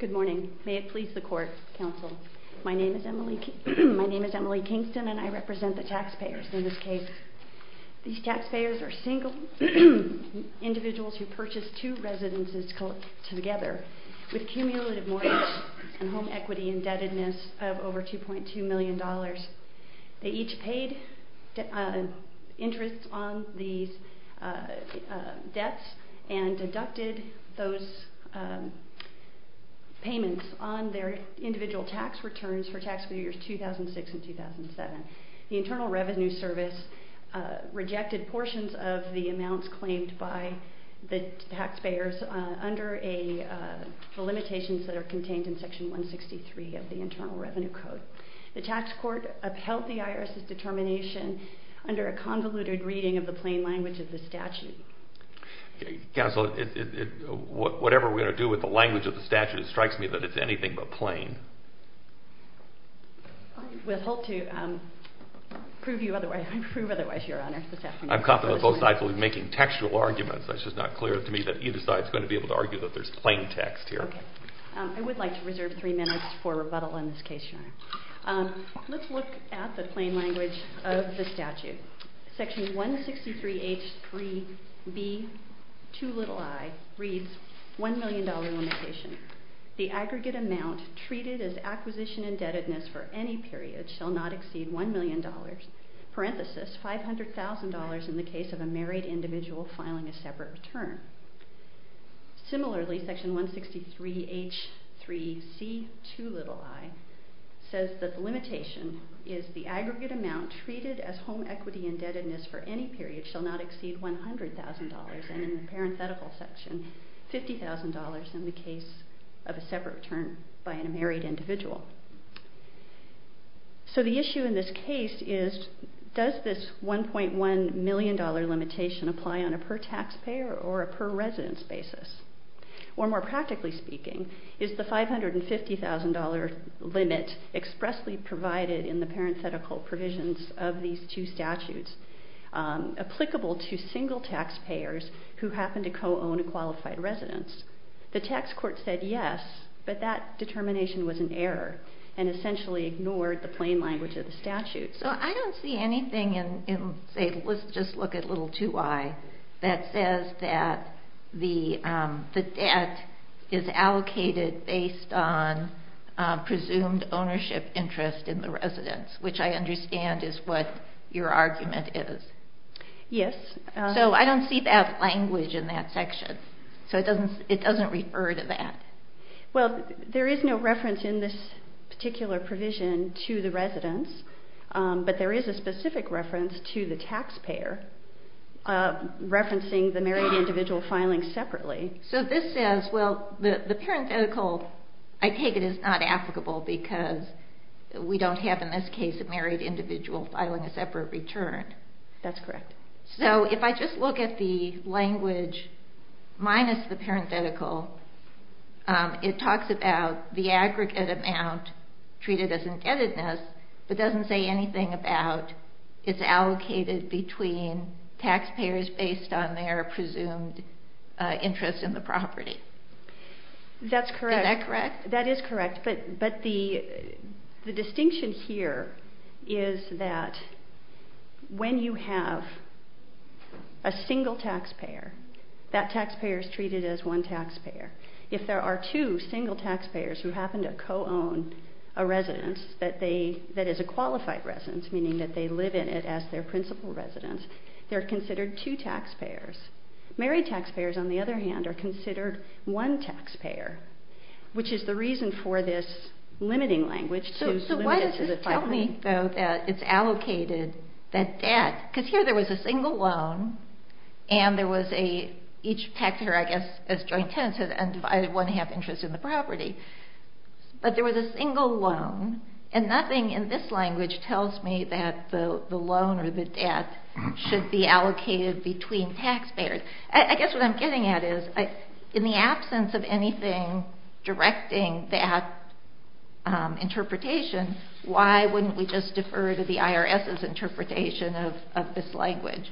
Good morning. May it please the court, counsel. My name is Emily Kingston and I represent the taxpayers in this case. These taxpayers are single individuals who purchased two residences together with cumulative mortgage and home equity indebtedness of over $2.2 million. They each paid interest on these debts and deducted those payments on their individual tax returns for tax years 2006 and 2007. The Internal Revenue Service rejected portions of the amounts claimed by the taxpayers under the limitations that are contained in Section 163 of the Internal Revenue Code. The tax court upheld the IRS's determination under a convoluted reading of the plain language of the statute. Counsel, whatever we're going to do with the language of the statute, it strikes me that it's anything but plain. I'm confident both sides will be making textual arguments. It's just not clear to me that either side is going to be able to argue that there's plain text here. I would like to reserve three minutes for rebuttal in this case. Let's look at the plain language of the statute. Section 163H3B2i reads $1 million limitation. The aggregate amount treated as acquisition indebtedness for any period shall not exceed $1 million, parenthesis $500,000 in the case of a married individual filing a separate return. Similarly, Section 163H3C2i says that the limitation is the aggregate amount treated as home equity indebtedness for any period shall not exceed $100,000, and in the parenthetical section, $50,000 in the case of a separate return by a married individual. So the issue in this case is does this $1.1 million limitation apply on a per taxpayer or a per residence basis? Or more practically speaking, is the $550,000 limit expressly provided in the parenthetical provisions of these two statutes applicable to single taxpayers who happen to co-own a qualified residence? The tax court said yes, but that determination was an error and essentially ignored the plain language of the statute. So I don't see anything in, say, let's just look at little 2i, that says that the debt is allocated based on presumed ownership interest in the residence, which I understand is what your argument is. Yes. So I don't see that language in that section. So it doesn't refer to that. Well, there is no reference in this particular provision to the residence, but there is a specific reference to the taxpayer referencing the married individual filing separately. So this says, well, the parenthetical, I take it, is not applicable because we don't have in this case a married individual filing a separate return. That's correct. So if I just look at the language minus the parenthetical, it talks about the aggregate amount treated as indebtedness, but doesn't say anything about it's allocated between taxpayers based on their presumed interest in the property. That's correct. Is that correct? That is correct, but the distinction here is that when you have a single taxpayer, that taxpayer is treated as one taxpayer. If there are two single taxpayers who happen to co-own a residence that is a qualified residence, meaning that they live in it as their principal residence, they're considered two taxpayers. Married taxpayers, on the other hand, are considered one taxpayer, which is the reason for this limiting language to limit it to the five million. So why does this tell me, though, that it's allocated that debt, because here there was a single loan and there was a, each taxpayer, I guess, as joint tenants had one half interest in the property, but there was a single loan and nothing in this language tells me that the loan or the debt should be allocated between taxpayers. I guess what I'm getting at is, in the absence of anything directing that interpretation, why wouldn't we just defer to the IRS's interpretation of this language?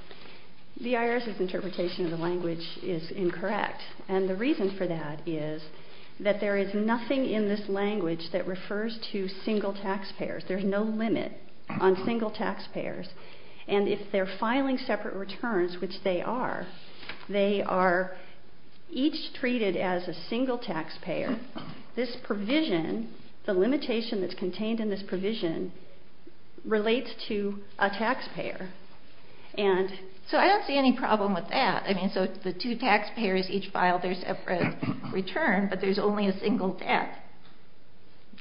The IRS's interpretation of the language is incorrect, and the reason for that is that there is nothing in this language that refers to single taxpayers. There's no limit on single taxpayers, and if they're filing separate returns, which they are, they are each treated as a single taxpayer. This provision, the limitation that's contained in this provision, relates to a taxpayer, and so I don't see any problem with that. I mean, so the two taxpayers each file their separate return, but there's only a single debt,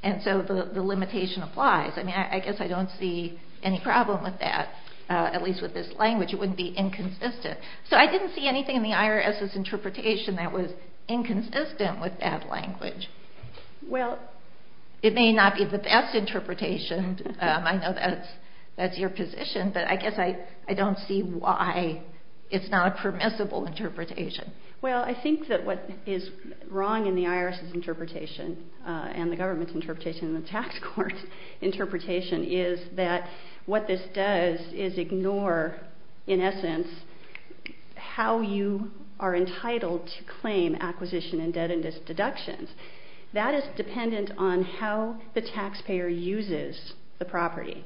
and so the limitation applies. I mean, I guess I don't see any problem with that, at least with this language. It wouldn't be inconsistent. So I didn't see anything in the IRS's interpretation that was inconsistent with that language. It may not be the best interpretation. I know that's your position, but I guess I don't see why it's not a permissible interpretation. Well, I think that what is wrong in the IRS's interpretation and the government's interpretation and the tax court's interpretation is that what this does is ignore, in essence, how you are entitled to claim acquisition and debt-induced deductions. That is dependent on how the taxpayer uses the property.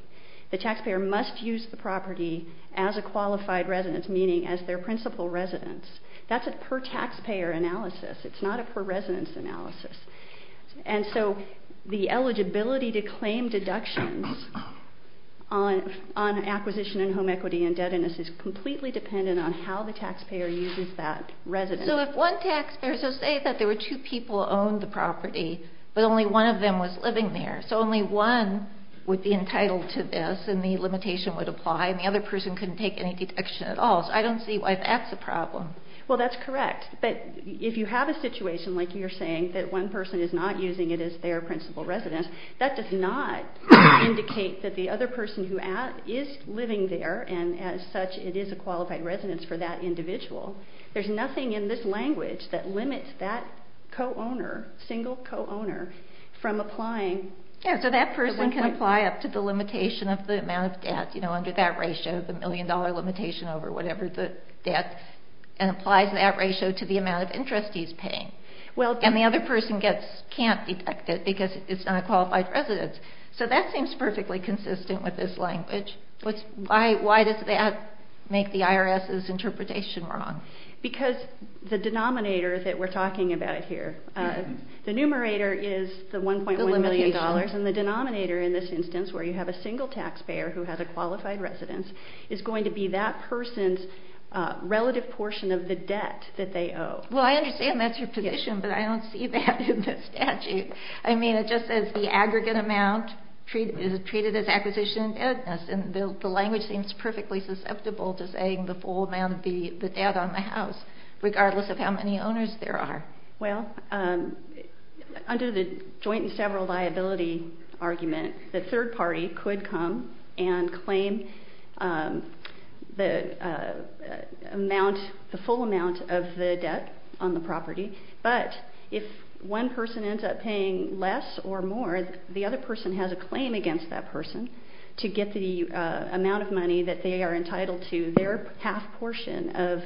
The taxpayer must use the property as a qualified residence, meaning as their principal residence. That's a per-taxpayer analysis. It's not a per-residence analysis. And so the eligibility to claim deductions on acquisition and home equity indebtedness is completely dependent on how the taxpayer uses that residence. So if one taxpayer, so say that there were two people who owned the property, but only one of them was living there, so only one would be entitled to this, and the limitation would apply, and the other person couldn't take any deduction at all. So I don't see why that's a problem. Well, that's correct. But if you have a situation, like you're saying, that one person is not using it as their principal residence, that does not indicate that the other person who is living there, and as such, it is a qualified residence for that individual. There's nothing in this language that limits that co-owner, single co-owner, from applying. Yeah, so that person can apply up to the limitation of the amount of debt, you know, under that debt, and applies that ratio to the amount of interest he's paying. And the other person can't detect it because it's not a qualified residence. So that seems perfectly consistent with this language. Why does that make the IRS's interpretation wrong? Because the denominator that we're talking about here, the numerator is the $1.1 million, and the denominator in this instance, where you have a single taxpayer who has a qualified residence, is going to be that person's relative portion of the debt that they owe. Well, I understand that's your position, but I don't see that in the statute. I mean, it just says the aggregate amount is treated as acquisition and debt. And the language seems perfectly susceptible to saying the full amount of the debt on the house, regardless of how many owners there are. Well, under the joint and several liability argument, the third party could come and claim the amount, the full amount of the debt on the property. But if one person ends up paying less or more, the other person has a claim against that person to get the amount of money that they are entitled to, their half portion of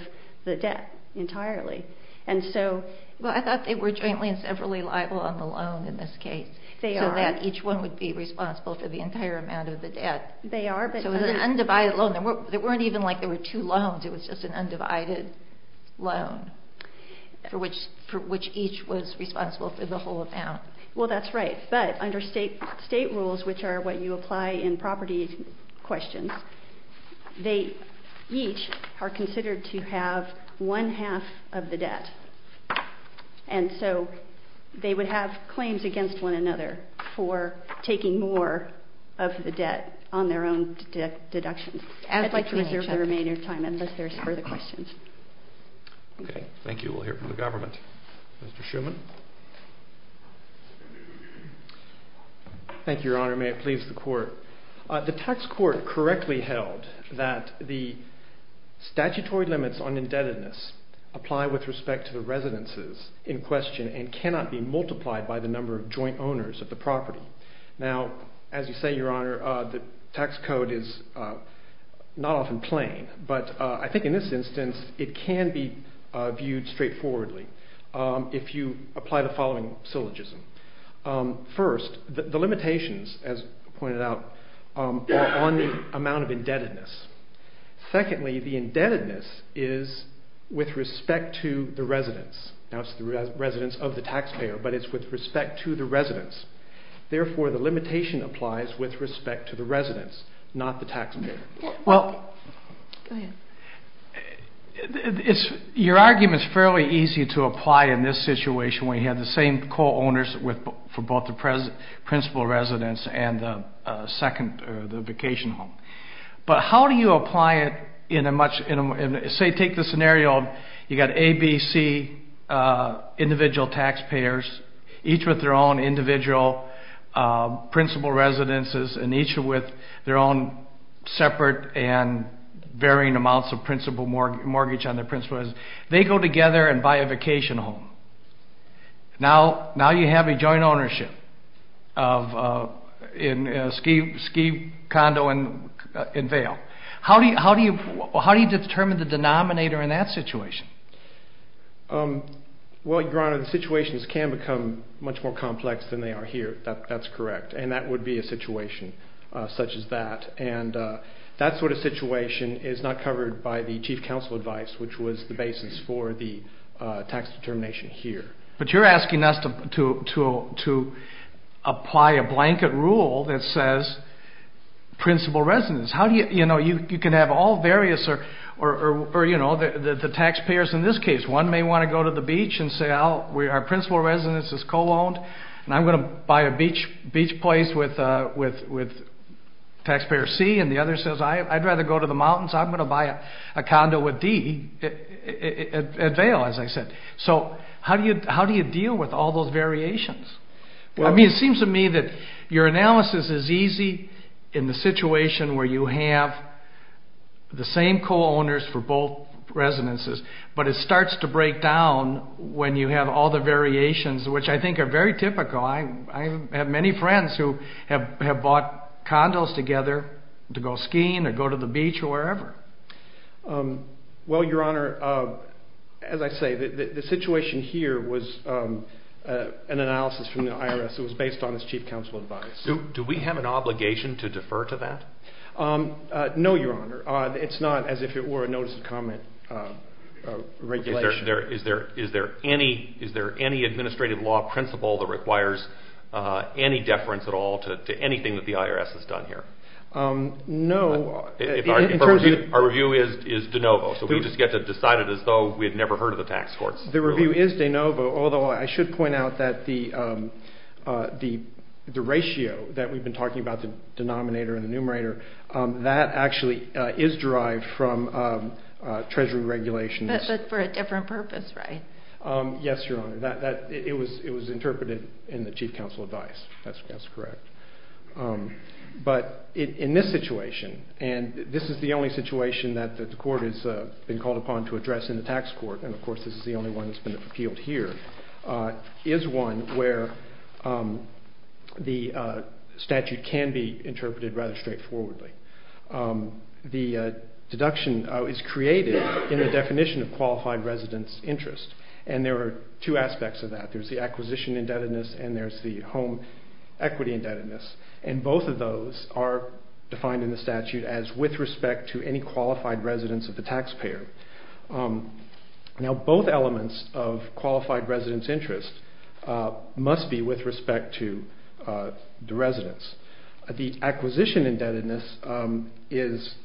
the debt entirely. Well, I thought they were jointly and severally liable on the loan in this case, so that each one would be responsible for the entire amount of the debt. They are. So it was an undivided loan. It wasn't even like there were two loans, it was just an undivided loan, for which each was responsible for the whole amount. Well, that's right. But under state rules, which are what you apply in property questions, they each are responsible for the half portion of the debt. And so they would have claims against one another for taking more of the debt on their own deductions. I'd like to reserve the remainder of time unless there's further questions. Thank you. We'll hear from the government. Mr. Schuman. Thank you, Your Honor. May it please the Court. The tax court correctly held that the statutory limits on indebtedness apply with respect to the residences in question and cannot be multiplied by the number of joint owners of the property. Now, as you say, Your Honor, the tax code is not often plain, but I think in this instance it can be viewed straightforwardly if you apply the following syllogism. First, the limitations, as pointed out, are on the amount of indebtedness. Secondly, the indebtedness is with respect to the residence. Now, it's the residence of the taxpayer, but it's with respect to the residence. Therefore, the limitation applies with respect to the residence, not the taxpayer. Well, your argument is fairly easy to apply in this situation where you have the same multiple owners for both the principal residence and the second, the vacation home. But how do you apply it in a much, say take the scenario of you've got A, B, C individual taxpayers, each with their own individual principal residences and each with their own separate and varying amounts of principal mortgage on their principal residence. They go together and buy a vacation home. Now you have a joint ownership of a ski condo in Vail. How do you determine the denominator in that situation? Well, Your Honor, the situations can become much more complex than they are here. That's correct, and that would be a situation such as that. And that sort of situation is not covered by the chief counsel advice, which was the tax determination here. But you're asking us to apply a blanket rule that says principal residence. You can have all various, or the taxpayers in this case, one may want to go to the beach and say our principal residence is co-owned, and I'm going to buy a beach place with taxpayer C, and the other says I'd rather go to the mountains, I'm going to buy a So how do you deal with all those variations? It seems to me that your analysis is easy in the situation where you have the same co-owners for both residences, but it starts to break down when you have all the variations, which I think are very typical. I have many friends who have bought condos together to go skiing or go to the beach or wherever. Well, your honor, as I say, the situation here was an analysis from the IRS. It was based on its chief counsel advice. Do we have an obligation to defer to that? No, your honor. It's not as if it were a notice of comment regulation. Is there any administrative law principle that requires any deference at all to anything that the IRS has done here? No. Our review is de novo, so we just get to decide it as though we had never heard of the tax courts. The review is de novo, although I should point out that the ratio that we've been talking about, the denominator and the numerator, that actually is derived from treasury regulations. But for a different purpose, right? Yes, your honor. It was interpreted in the chief counsel advice. That's correct. But in this situation, and this is the only situation that the court has been called upon to address in the tax court, and of course this is the only one that's been appealed here, is one where the statute can be interpreted rather straightforwardly. The deduction is created in the definition of qualified residence interest, and there are two aspects of that. There's the acquisition indebtedness and there's the home equity indebtedness, and both of those are defined in the statute as with respect to any qualified residence of the taxpayer. Now, both elements of qualified residence interest must be with respect to the residence. The acquisition indebtedness is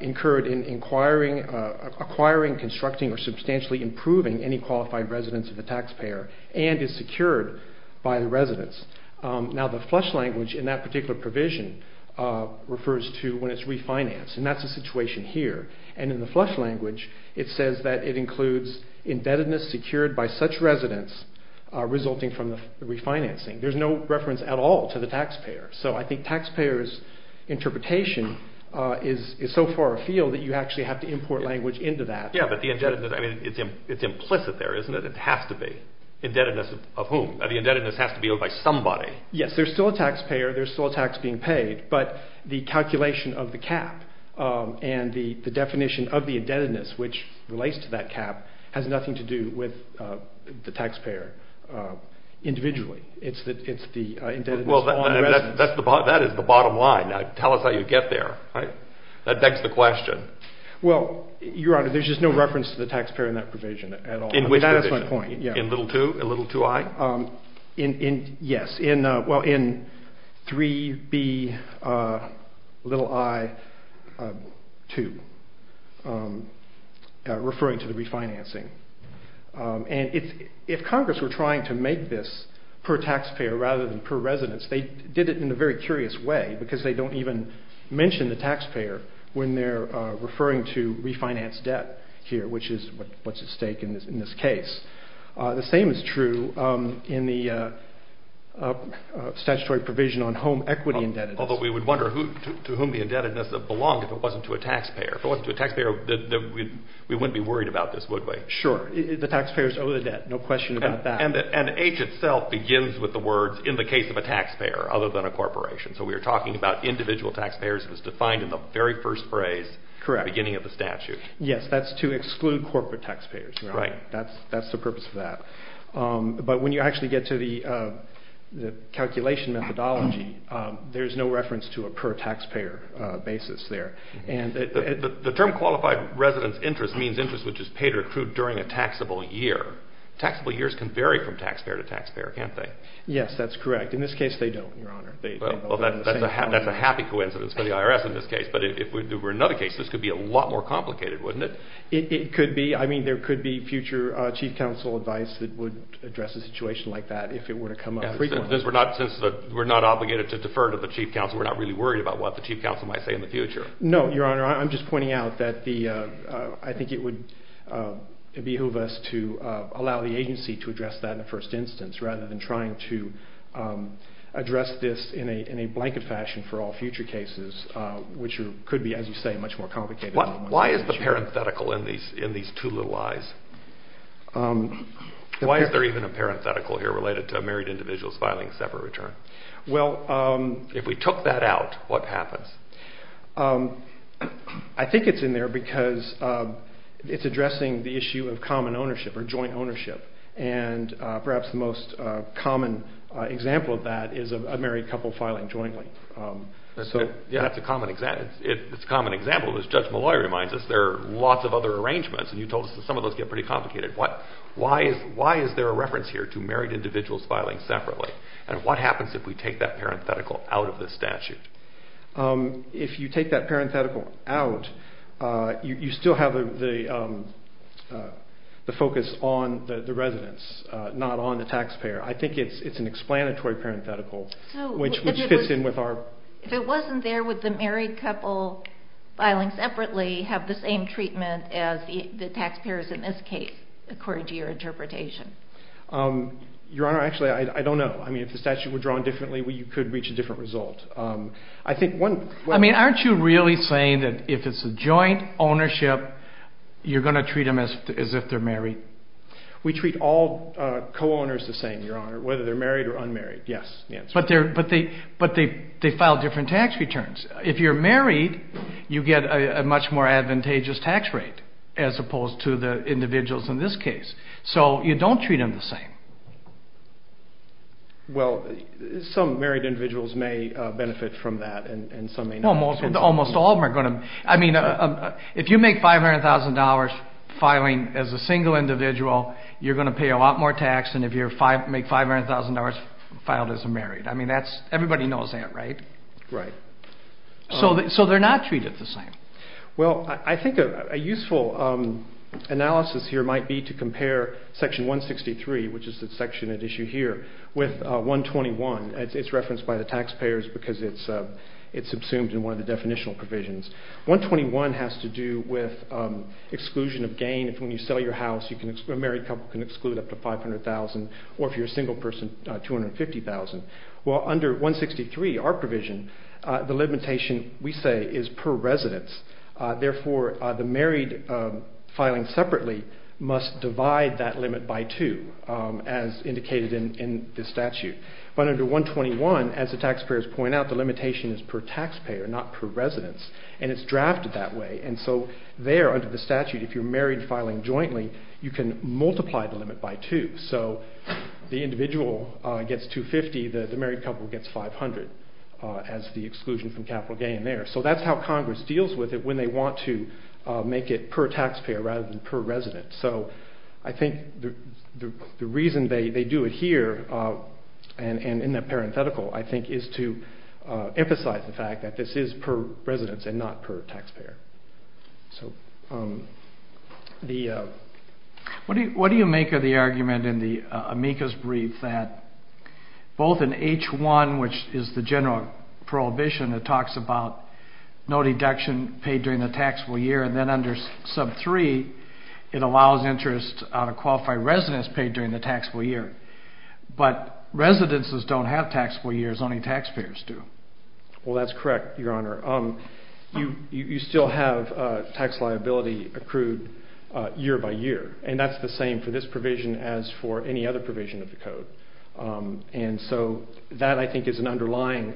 incurred in acquiring, constructing, or and is secured by the residence. Now, the flush language in that particular provision refers to when it's refinanced, and that's the situation here. And in the flush language, it says that it includes indebtedness secured by such residence resulting from the refinancing. There's no reference at all to the taxpayer. So I think taxpayers' interpretation is so far afield that you actually have to import language into that. Yeah, but the indebtedness, I mean, it's implicit there, isn't it? It has to be. Indebtedness of whom? The indebtedness has to be owed by somebody. Yes, there's still a taxpayer. There's still a tax being paid, but the calculation of the cap and the definition of the indebtedness, which relates to that cap, has nothing to do with the taxpayer individually. It's the indebtedness on residence. Well, that is the bottom line. Now, tell us how you get there, right? That begs the question. Well, Your Honor, there's just no reference to the taxpayer in that provision at all. In which provision? That is my point, yeah. In little 2? In little 2i? Yes. Well, in 3B little i 2, referring to the refinancing. And if Congress were trying to make this per taxpayer rather than per residence, they did it in a very curious way because they don't even mention the taxpayer when they're referring to refinance debt here, which is what's at stake in this case. The same is true in the statutory provision on home equity indebtedness. Although we would wonder to whom the indebtedness belonged if it wasn't to a taxpayer. If it wasn't to a taxpayer, we wouldn't be worried about this, would we? Sure. The taxpayers owe the debt. No question about that. And H itself begins with the words in the case of a taxpayer other than a corporation. phrase at the beginning of the statute. Correct. Yes, that's to exclude corporate taxpayers. Right. That's the purpose of that. But when you actually get to the calculation methodology, there's no reference to a per taxpayer basis there. The term qualified residence interest means interest which is paid or accrued during a taxable year. Taxable years can vary from taxpayer to taxpayer, can't they? Yes, that's correct. In this case, they don't, Your Honor. Well, that's a happy coincidence for the IRS in this case. But if there were another case, this could be a lot more complicated, wouldn't it? It could be. I mean, there could be future chief counsel advice that would address a situation like that if it were to come up frequently. Since we're not obligated to defer to the chief counsel, we're not really worried about what the chief counsel might say in the future. No, Your Honor. I'm just pointing out that I think it would behoove us to allow the agency to address that in the first instance rather than trying to address this in a way that could be, as you say, much more complicated. Why is the parenthetical in these two little I's? Why is there even a parenthetical here related to a married individual's filing separate return? If we took that out, what happens? I think it's in there because it's addressing the issue of common ownership or joint ownership. And perhaps the most common example of that is a married couple filing jointly. That's a common example. As Judge Malloy reminds us, there are lots of other arrangements. And you told us that some of those get pretty complicated. Why is there a reference here to married individuals filing separately? And what happens if we take that parenthetical out of the statute? If you take that parenthetical out, you still have the focus on the residents, not on the taxpayer. I think it's an explanatory parenthetical. If it wasn't there, would the married couple filing separately have the same treatment as the taxpayers in this case, according to your interpretation? Your Honor, actually, I don't know. If the statute were drawn differently, you could reach a different result. Aren't you really saying that if it's a joint ownership, you're going to treat them as if they're married? We treat all co-owners the same, Your Honor, whether they're married or unmarried, yes. But they file different tax returns. If you're married, you get a much more advantageous tax rate, as opposed to the individuals in this case. So you don't treat them the same. Well, some married individuals may benefit from that, and some may not. Almost all of them are going to. If you make $500,000 filing as a single individual, you're going to pay a lot more tax than if you make $500,000 filed as a married. Everybody knows that, right? Right. So they're not treated the same. Well, I think a useful analysis here might be to compare Section 163, which is the section at issue here, with 121. It's referenced by the taxpayers because it's assumed in one of the statutes. 121 has to do with exclusion of gain. When you sell your house, a married couple can exclude up to $500,000, or if you're a single person, $250,000. Well, under 163, our provision, the limitation, we say, is per residence. Therefore, the married filing separately must divide that limit by two, as indicated in the statute. But under 121, as the taxpayers point out, the limitation is per taxpayer, not per residence. And it's drafted that way. And so there, under the statute, if you're married filing jointly, you can multiply the limit by two. So the individual gets $250,000, the married couple gets $500,000 as the exclusion from capital gain there. So that's how Congress deals with it when they want to make it per taxpayer rather than per resident. So I think the reason they do it here and in the parenthetical, I think, is to emphasize the fact that this is per residence and not per taxpayer. So the... What do you make of the argument in the amicus brief that both in H1, which is the general prohibition that talks about no deduction paid during the taxable year, and then under sub 3, it allows interest on a qualified residence paid during the taxable year. But residences don't have taxable years. Only taxpayers do. Well, that's correct, Your Honor. You still have tax liability accrued year by year. And that's the same for this provision as for any other provision of the code. And so that, I think, is an underlying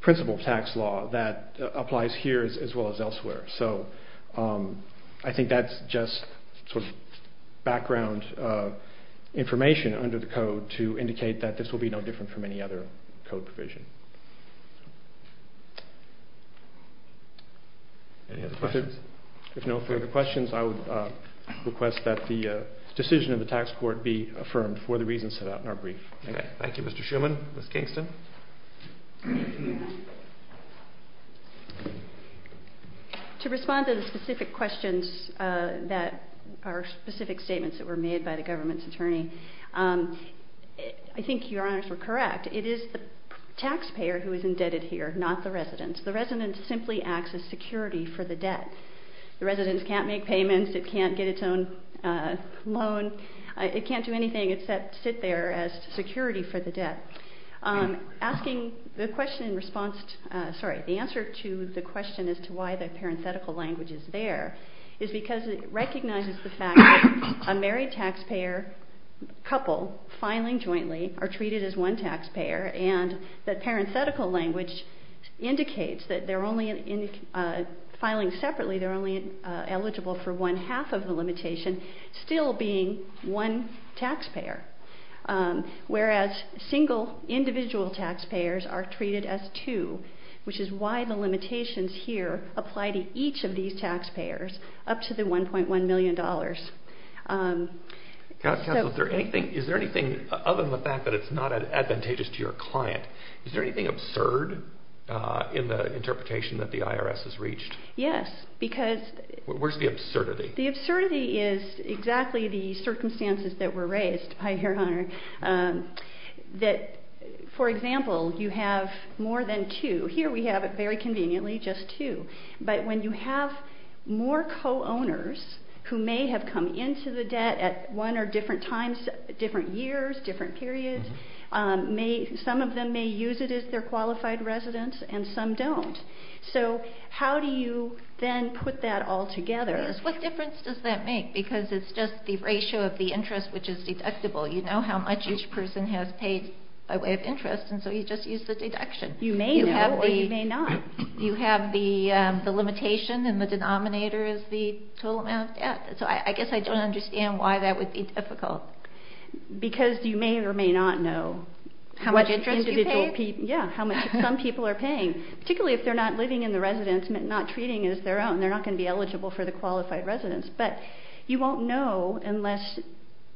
principle of tax law that applies here as well as elsewhere. So I think that's just sort of background information under the code to indicate that this will be no different from any other code provision. Any other questions? If no further questions, I would request that the decision of the tax court be affirmed for the reasons set out in our brief. Okay. Thank you, Mr. Shuman. Ms. Kingston? To respond to the specific questions that are specific statements that were made by the government's attorney, I think Your Honors were correct. It is the taxpayer who is indebted here, not the residence. The residence simply acts as security for the debt. The residence can't make payments. It can't get its own loan. It can't do anything except sit there as security for the debt. Asking the question in response to, sorry, the answer to the question as to why the parenthetical language is there is because it recognizes the fact that a married taxpayer couple filing jointly are treated as one taxpayer and that parenthetical language indicates that they're only filing separately, they're only eligible for one half of the limitation still being one taxpayer. Whereas single individual taxpayers are treated as two, which is why the limitations here apply to each of these taxpayers up to the $1.1 million. Counsel, is there anything other than the fact that it's not advantageous to your client, is there anything absurd in the interpretation that the IRS has reached? Yes. Because... Where's the absurdity? The absurdity is exactly the circumstances that were raised by your honor that, for example, you have more than two. Here we have it very conveniently, just two. But when you have more co-owners who may have come into the debt at one or different times, different years, different periods, some of them may use it as their qualified residence and some don't. So how do you then put that all together? What difference does that make? Because it's just the ratio of the interest, which is deductible. You know how much each person has paid by way of interest, and so you just use the deduction. You may know or you may not. You have the limitation and the denominator is the total amount of debt. So I guess I don't understand why that would be difficult. Because you may or may not know... How much interest you pay? Yeah, how much some people are paying. Particularly if they're not living in the residence, not treating it as their own. They're not going to be eligible for the qualified residence. But you won't know unless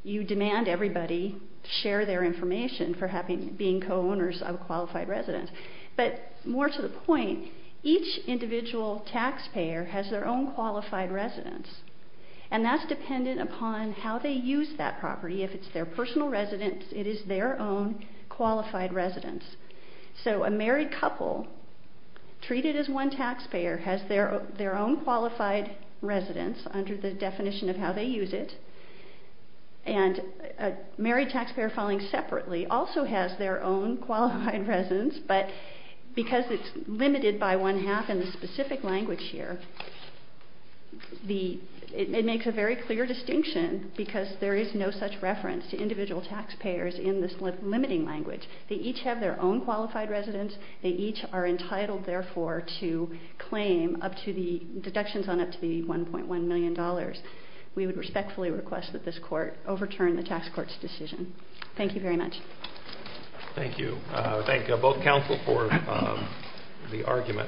you demand everybody share their information for being co-owners of a qualified residence. But more to the point, each individual taxpayer has their own qualified residence, and that's dependent upon how they use that property. If it's their personal residence, it is their own qualified residence. So a married couple treated as one taxpayer has their own qualified residence under the definition of how they use it. And a married taxpayer filing separately also has their own qualified residence, but because it's limited by one half in the specific language here, it makes a very clear distinction because there is no such reference to individual taxpayers in this limiting language. They each have their own qualified residence. They each are entitled, therefore, to claim up to the deductions on up to the $1.1 million. We would respectfully request that this court overturn the tax court's decision. Thank you very much. Thank you. Thank both counsel for the argument.